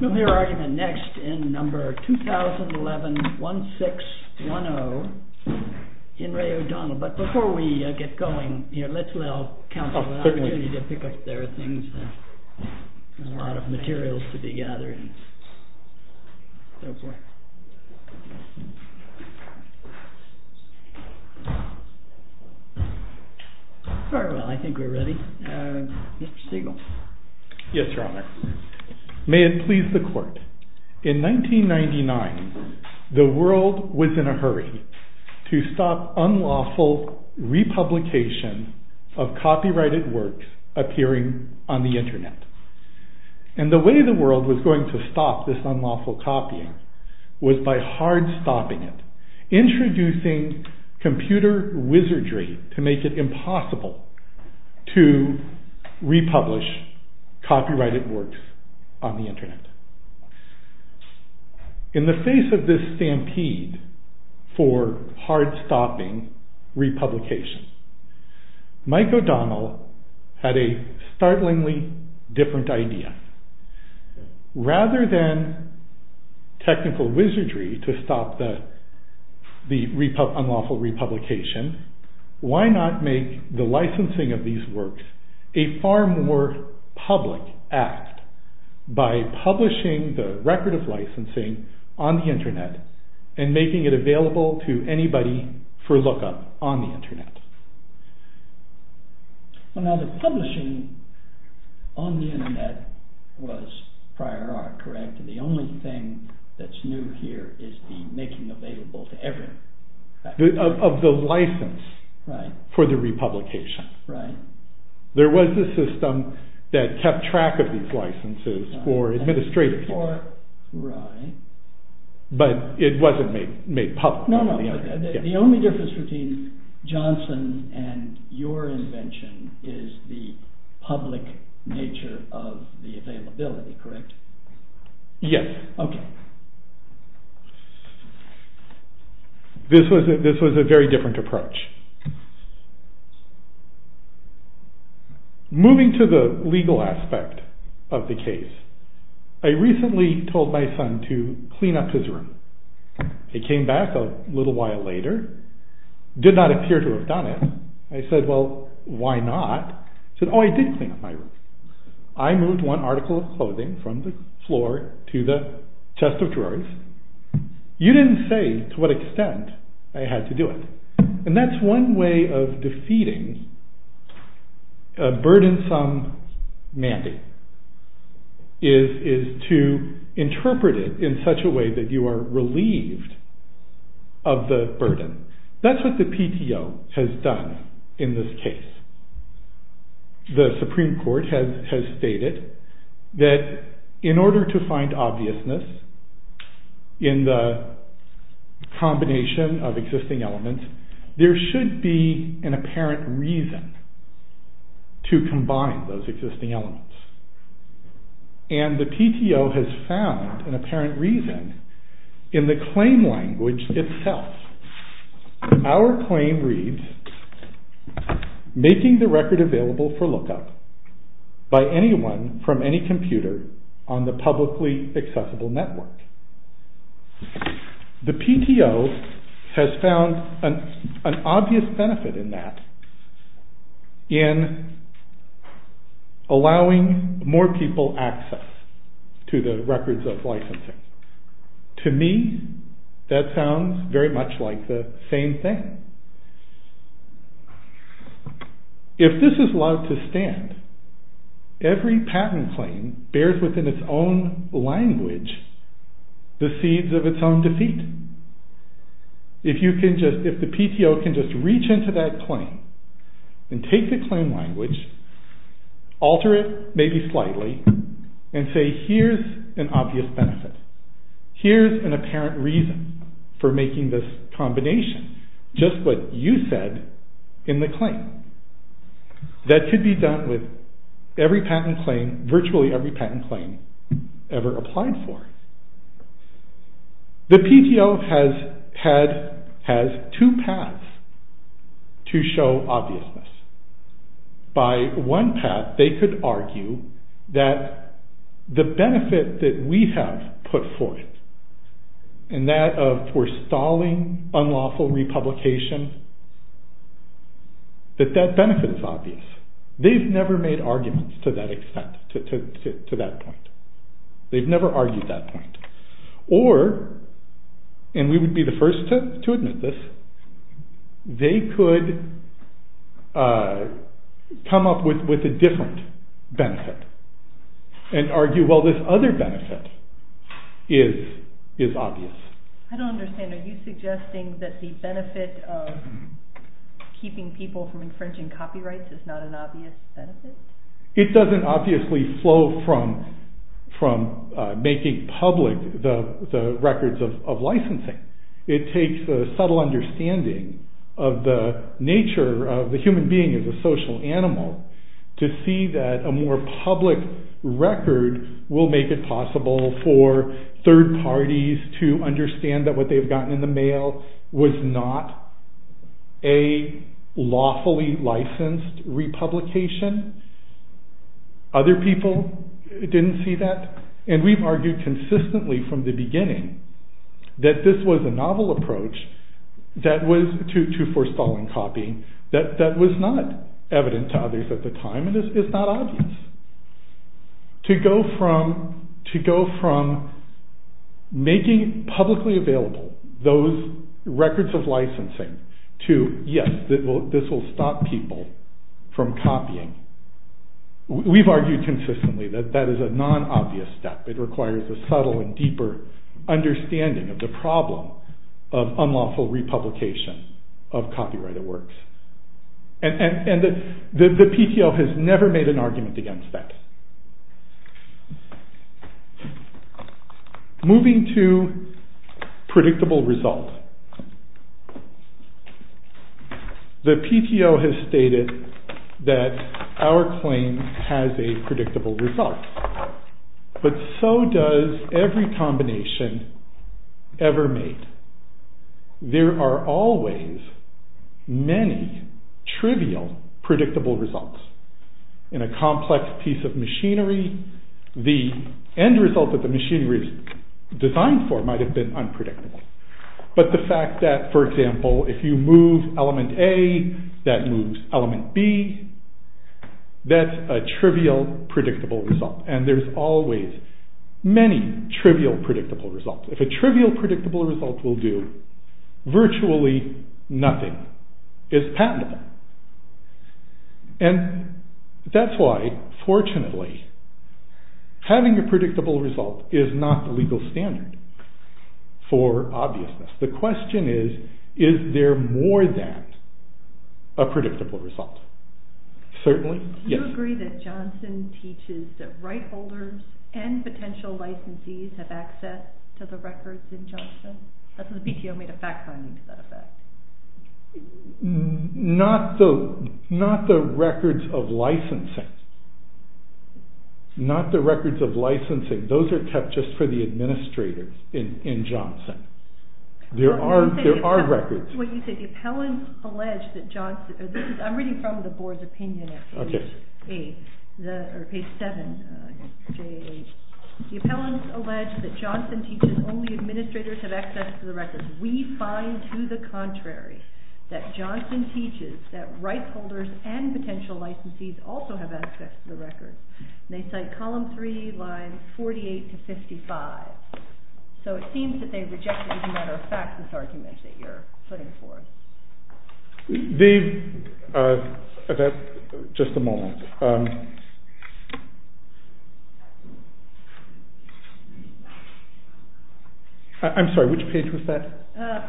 We'll hear argument next in number 2011-1610, In Re O'Donnell, but before we get going, let's allow counsel the opportunity to pick up their things. There's a lot of materials to be gathered and so forth. All right, I think we're ready. Mr. Stegall. In the face of this stampede for hard-stopping republication, Mike O'Donnell had a startlingly different idea. Rather than technical wizardry to stop the unlawful republication, why not make the licensing of these works a far more public act by publishing the record of licensing on the internet and making it available to anybody for look-up on the internet. The publishing on the internet was prior art, correct? The only thing that's new here is the making available to everyone. Of the license for the republication. There was a system that kept track of these licenses for administrative purposes, but it wasn't made public on the internet. The only difference between Johnson and your invention is the public nature of the availability, correct? Yes. This was a very different approach. Moving to the legal aspect of the case, I recently told my son to clean up his room. He came back a little while later, did not appear to have done it. I said, well, why not? He said, oh, I did clean up my room. I moved one article of clothing from the floor to the chest of drawers. You didn't say to what extent I had to do it. And that's one way of defeating a burdensome mandate is to interpret it in such a way that you are relieved of the burden. That's what the PTO has done in this case. The Supreme Court has stated that in order to find obviousness in the combination of existing elements, there should be an apparent reason to combine those existing elements. And the PTO has found an apparent reason in the claim language itself. Our claim reads, making the record available for lookup by anyone from any computer on the publicly accessible network. The PTO has found an obvious benefit in that in allowing more people access to the records of licensing. To me, that sounds very much like the same thing. If this is allowed to stand, every patent claim bears within its own language the seeds of its own defeat. If the PTO can just reach into that claim and take the claim language, alter it maybe slightly and say, here's an obvious benefit. Here's an apparent reason for making this combination. Just what you said in the claim. That could be done with every patent claim, virtually every patent claim ever applied for. The PTO has two paths to show obviousness. By one path, they could argue that the benefit that we have put forth in that of forestalling unlawful republication, that that benefit is obvious. They've never made arguments to that extent, to that point. They've never argued that point. Or, and we would be the first to admit this, they could come up with a different benefit and argue, well, this other benefit is obvious. I don't understand. Are you suggesting that the benefit of keeping people from infringing copyrights is not an obvious benefit? It doesn't obviously flow from making public the records of licensing. It takes a subtle understanding of the nature of the human being as a social animal to see that a more public record will make it possible for third parties to understand that what they've gotten in the mail was not a lawfully licensed republication. Other people didn't see that. And we've argued consistently from the beginning that this was a novel approach to forestalling copying that was not evident to others at the time and is not obvious. To go from making publicly available those records of licensing to, yes, this will stop people from copying, we've argued consistently that that is a non-obvious step. It requires a subtle and deeper understanding of the problem of unlawful republication of copyrighted works. And the PTO has never made an argument against that. Moving to predictable results. The PTO has stated that our claim has a predictable result, but so does every combination ever made. There are always many trivial predictable results. In a complex piece of machinery, the end result that the machinery is designed for might have been unpredictable. But the fact that, for example, if you move element A, that moves element B, that's a trivial predictable result. And there's always many trivial predictable results. If a trivial predictable result will do, virtually nothing is patentable. And that's why, fortunately, having a predictable result is not the legal standard for obviousness. The question is, is there more than a predictable result? Do you agree that Johnson teaches that right holders and potential licensees have access to the records in Johnson? That's what the PTO made a fact-finding set of that. Not the records of licensing. Not the records of licensing. Those are kept just for the administrators in Johnson. There are records. I'm reading from the board's opinion at page 7. The appellants allege that Johnson teaches only administrators have access to the records. We find, to the contrary, that Johnson teaches that rights holders and potential licensees also have access to the records. They cite column 3, lines 48 to 55. So it seems that they rejected, as a matter of fact, this argument that you're putting forth. Just a moment. I'm sorry, which page was that?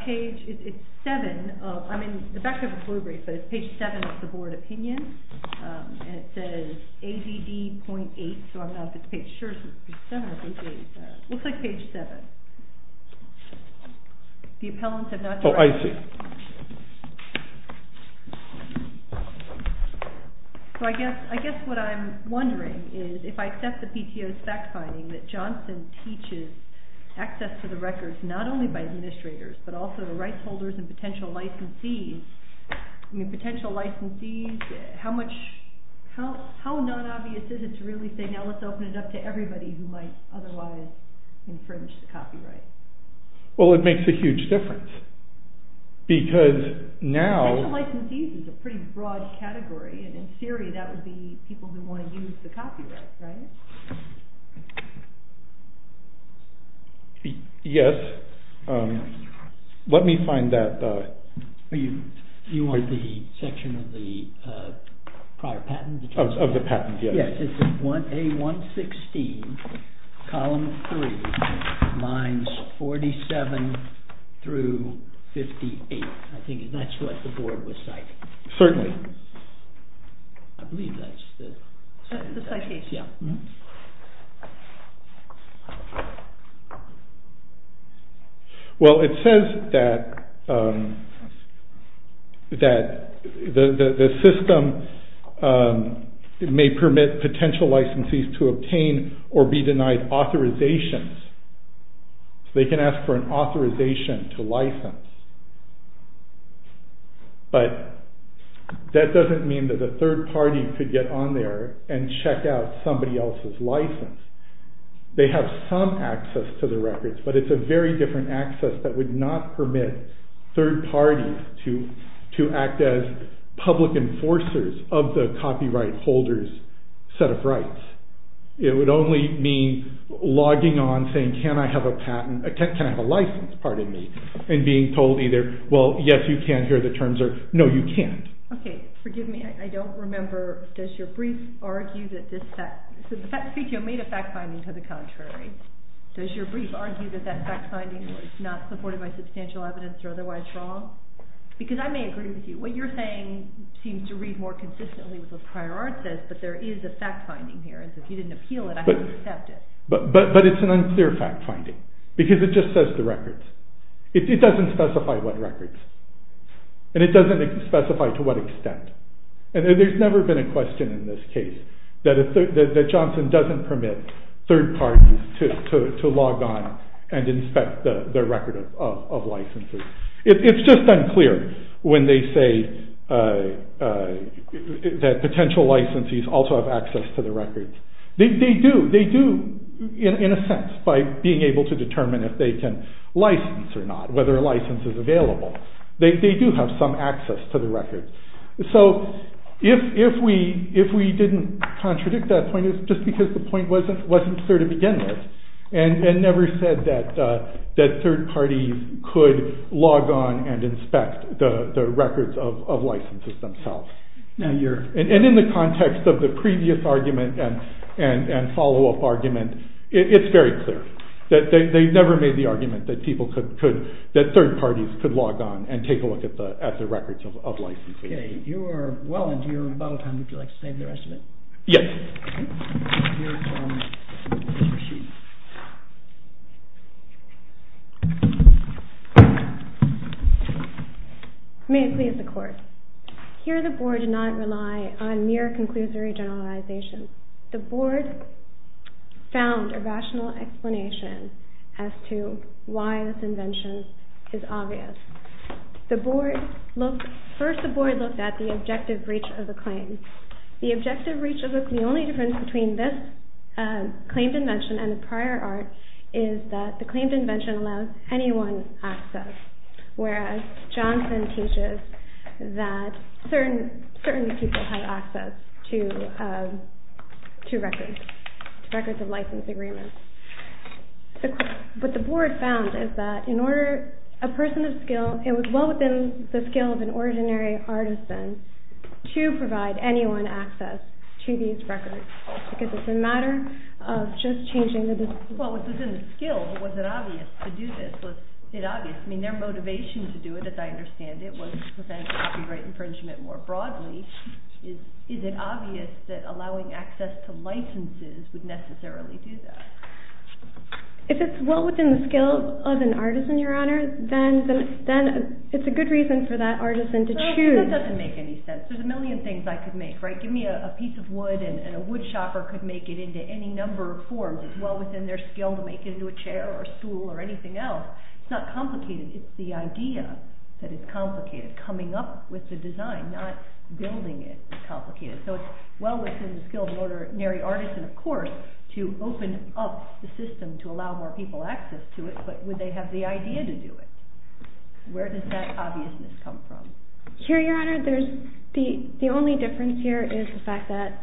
Page 7 of the board opinion. And it says ADD.8, so I don't know if it's page 7 or page 8. It looks like page 7. The appellants have not directed me. Oh, I see. So I guess what I'm wondering is, if I accept the PTO's fact-finding that Johnson teaches access to the records not only by administrators, but also the rights holders and potential licensees, how non-obvious is it to really say, now let's open it up to everybody who might otherwise infringe the copyright? Well, it makes a huge difference, because now... Potential licensees is a pretty broad category, and in theory that would be people who want to use the copyright, right? Yes. Let me find that... You want the section of the prior patent? Of the patent, yes. Yes, it's A116, column 3, lines 47 through 58. I think that's what the board was citing. Certainly. I believe that's the... The citation. Well, it says that the system may permit potential licensees to obtain or be denied authorizations. They can ask for an authorization to license. But that doesn't mean that the third party could get on there and check out somebody else's license. They have some access to the records, but it's a very different access that would not permit third parties to act as public enforcers of the copyright holder's set of rights. It would only mean logging on saying, can I have a patent, can I have a license, pardon me, and being told either, well, yes, you can here the terms are... No, you can't. Okay, forgive me, I don't remember, does your brief argue that this fact... So the fact... You made a fact finding to the contrary. Does your brief argue that that fact finding was not supported by substantial evidence or otherwise wrong? Because I may agree with you. What you're saying seems to read more consistently with what prior art says, but there is a fact finding here. If you didn't appeal it, I would accept it. But it's an unclear fact finding, because it just says the records. It doesn't specify what records, and it doesn't specify to what extent. And there's never been a question in this case that Johnson doesn't permit third parties to log on and inspect their record of licenses. It's just unclear when they say that potential licensees also have access to the records. They do, in a sense, by being able to determine if they can license or not, whether a license is available. They do have some access to the records. So if we didn't contradict that point, it's just because the point wasn't clear to begin with, and never said that third parties could log on and inspect the records of licenses themselves. And in the context of the previous argument and follow-up argument, it's very clear. They never made the argument that third parties could log on and take a look at the records of licenses. You are well into your bottle time. Would you like to save the rest of it? Yes. May it please the court. Here the board did not rely on mere conclusory generalizations. The board found a rational explanation as to why this invention is obvious. First the board looked at the objective reach of the claim. The objective reach of the claim, the only difference between this claimed invention and the prior art, is that the claimed invention allows anyone access, whereas Johnson teaches that certain people have access to records of license agreements. What the board found is that in order, a person of skill, it was well within the skill of an ordinary artisan to provide anyone access to these records. Because it's a matter of just changing the discipline. It's well within the skill, but was it obvious to do this? Was it obvious? I mean, their motivation to do it, as I understand it, was to prevent copyright infringement more broadly. Is it obvious that allowing access to licenses would necessarily do that? If it's well within the skill of an artisan, Your Honor, then it's a good reason for that artisan to choose. That doesn't make any sense. There's a million things I could make, right? Give me a piece of wood and a wood shopper could make it into any number of forms. Well, it's well within their skill to make it into a chair or a stool or anything else. It's not complicated. It's the idea that is complicated. Coming up with the design, not building it, is complicated. So it's well within the skill of an ordinary artisan, of course, to open up the system to allow more people access to it, but would they have the idea to do it? Where does that obviousness come from? Here, Your Honor, the only difference here is the fact that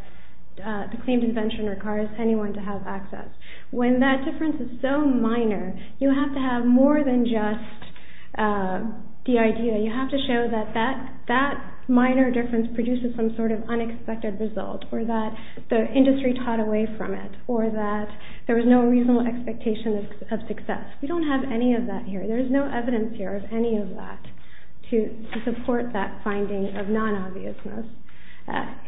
the claimed invention requires anyone to have access. When that difference is so minor, you have to have more than just the idea. You have to show that that minor difference produces some sort of unexpected result or that the industry taught away from it or that there was no reasonable expectation of success. We don't have any of that here. There's no evidence here of any of that to support that finding of non-obviousness.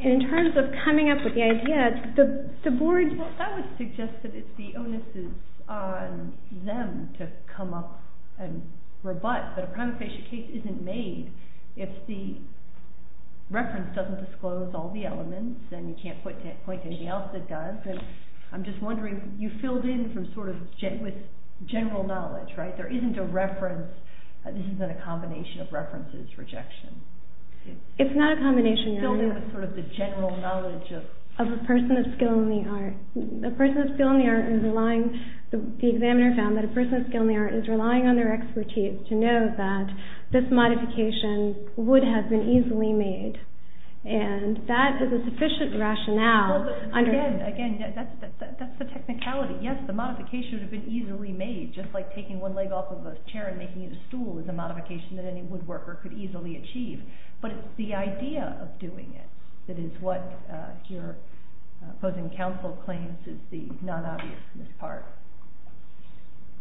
In terms of coming up with the idea, the board... Well, I would suggest that it's the onus is on them to come up and rebut that a primary patient case isn't made if the reference doesn't disclose all the elements and you can't point to anything else that does. I'm just wondering, you filled in with general knowledge, right? There isn't a reference. This isn't a combination of references, rejection. It's not a combination, Your Honor. You filled in with sort of the general knowledge of... Of a person of skill in the art. A person of skill in the art is relying... The examiner found that a person of skill in the art is relying on their expertise to know that this modification would have been easily made and that is a sufficient rationale under... Again, that's the technicality. Yes, the modification would have been easily made, just like taking one leg off of a chair and making it a stool is a modification that any woodworker could easily achieve, but it's the idea of doing it that is what your opposing counsel claims is the non-obviousness part.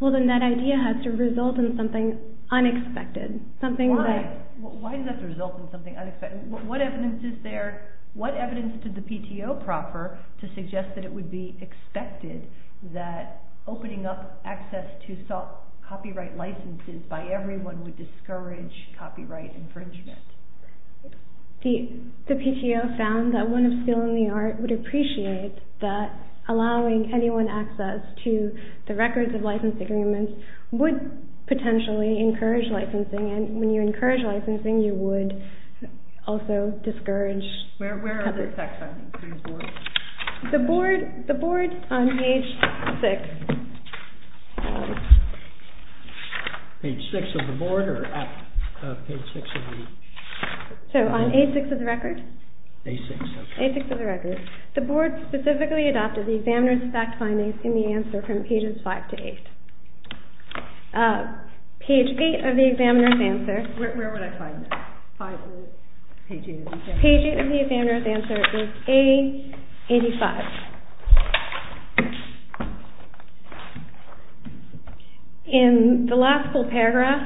Well, then that idea has to result in something unexpected. Why does that result in something unexpected? What evidence is there? What evidence did the PTO proffer to suggest that it would be expected that opening up access to copyright licenses by everyone would discourage copyright infringement? The PTO found that one of skill in the art would appreciate that allowing anyone access to the records of license agreements would potentially encourage licensing, and when you encourage licensing, you would also discourage... Where are the effects on these boards? The boards on page 6... Page 6 of the board or page 6 of the... So on A6 of the record? A6. A6 of the record. The board specifically adopted the examiner's fact findings in the answer from pages 5 to 8. Page 8 of the examiner's answer... Where would I find that? Page 8 of the examiner's answer is A85. In the last full paragraph,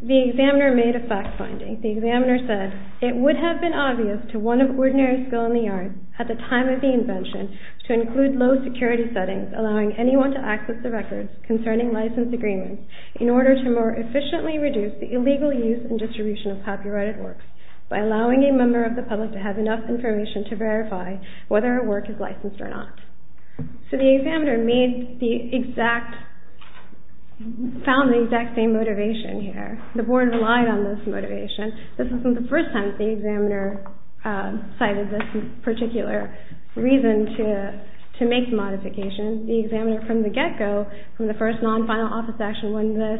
the examiner made a fact finding. The examiner said, it would have been obvious to one of ordinary skill in the art at the time of the invention to include low security settings allowing anyone to access the records concerning license agreements in order to more efficiently reduce the illegal use and distribution of copyrighted works by allowing a member of the public to have enough information to verify whether a work is licensed or not. So the examiner found the exact same motivation here. The board relied on this motivation. This wasn't the first time the examiner cited this particular reason to make the modification. The examiner from the get-go, from the first non-final office action when this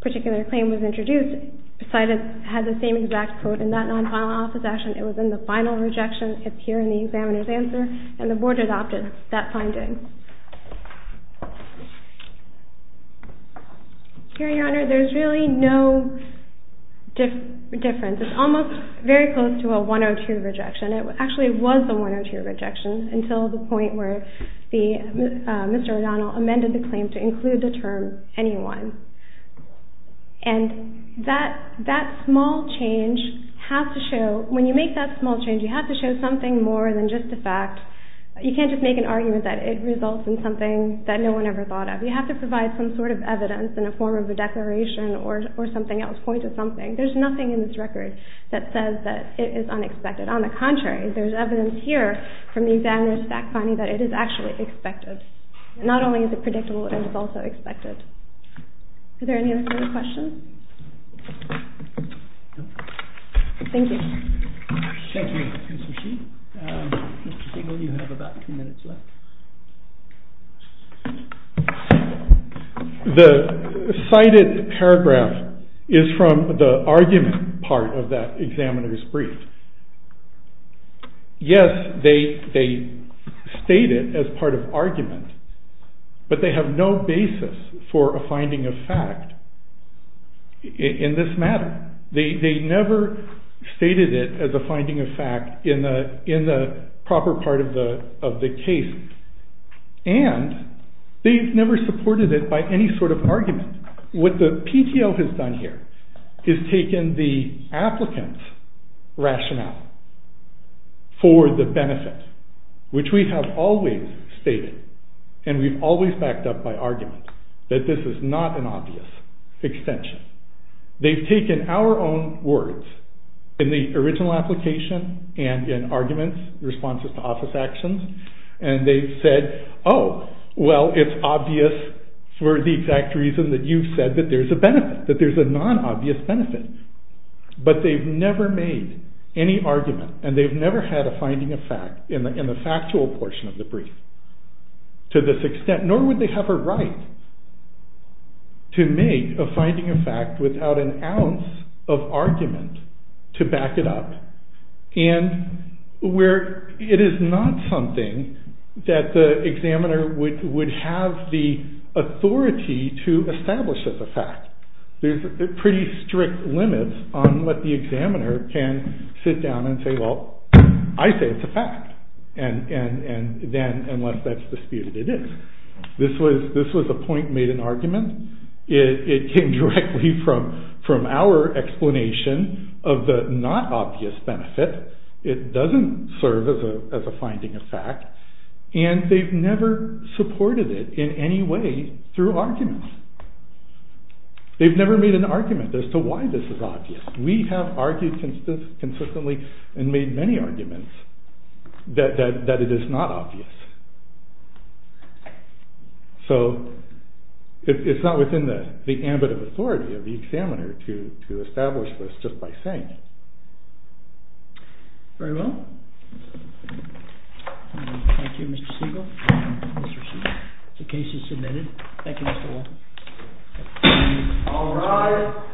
particular claim was introduced, had the same exact quote in that non-final office action. It was in the final rejection here in the examiner's answer and the board adopted that finding. Here, Your Honor, there's really no difference. It's almost very close to a 102 rejection. It actually was a 102 rejection until the point where Mr. O'Donnell amended the claim to include the term anyone. And that small change has to show, when you make that small change, you have to show something more than just a fact. You can't just make an argument that it results in something that no one ever thought of. You have to provide some sort of evidence in the form of a declaration or something else, point to something. There's nothing in this record that says that it is unexpected. On the contrary, there's evidence here from the examiner's fact finding that it is actually expected. Not only is it predictable, it is also expected. Are there any other questions? Thank you. Thank you, Ms. O'Shee. Mr. Single, you have about two minutes left. The cited paragraph is from the argument part of that examiner's brief. Yes, they state it as part of argument, but they have no basis for a finding of fact in this matter. They never stated it as a finding of fact in the proper part of the case. And they've never supported it by any sort of argument. What the PTO has done here is taken the applicant's rationale for the benefit, which we have always stated, and we've always backed up by argument, that this is not an obvious extension. They've taken our own words in the original application and in arguments, responses to office actions, and they've said, oh, well, it's obvious for the exact reason that you've said that there's a benefit, that there's a non-obvious benefit. But they've never made any argument, and they've never had a finding of fact in the factual portion of the brief to this extent, nor would they have a right to make a finding of fact without an ounce of argument to back it up, and where it is not something that the examiner would have the authority to establish as a fact. There's pretty strict limits on what the examiner can sit down and say, well, I say it's a fact, and then, unless that's disputed, it is. This was a point made in argument. It came directly from our explanation of the non-obvious benefit. It doesn't serve as a finding of fact, and they've never supported it in any way through arguments. They've never made an argument as to why this is obvious. We have argued consistently and made many arguments that it is not obvious. So it's not within the ambit of authority of the examiner to establish this just by saying it. Very well. Thank you, Mr. Siegel. The case is submitted. Thank you, Mr. Wolfe. All rise.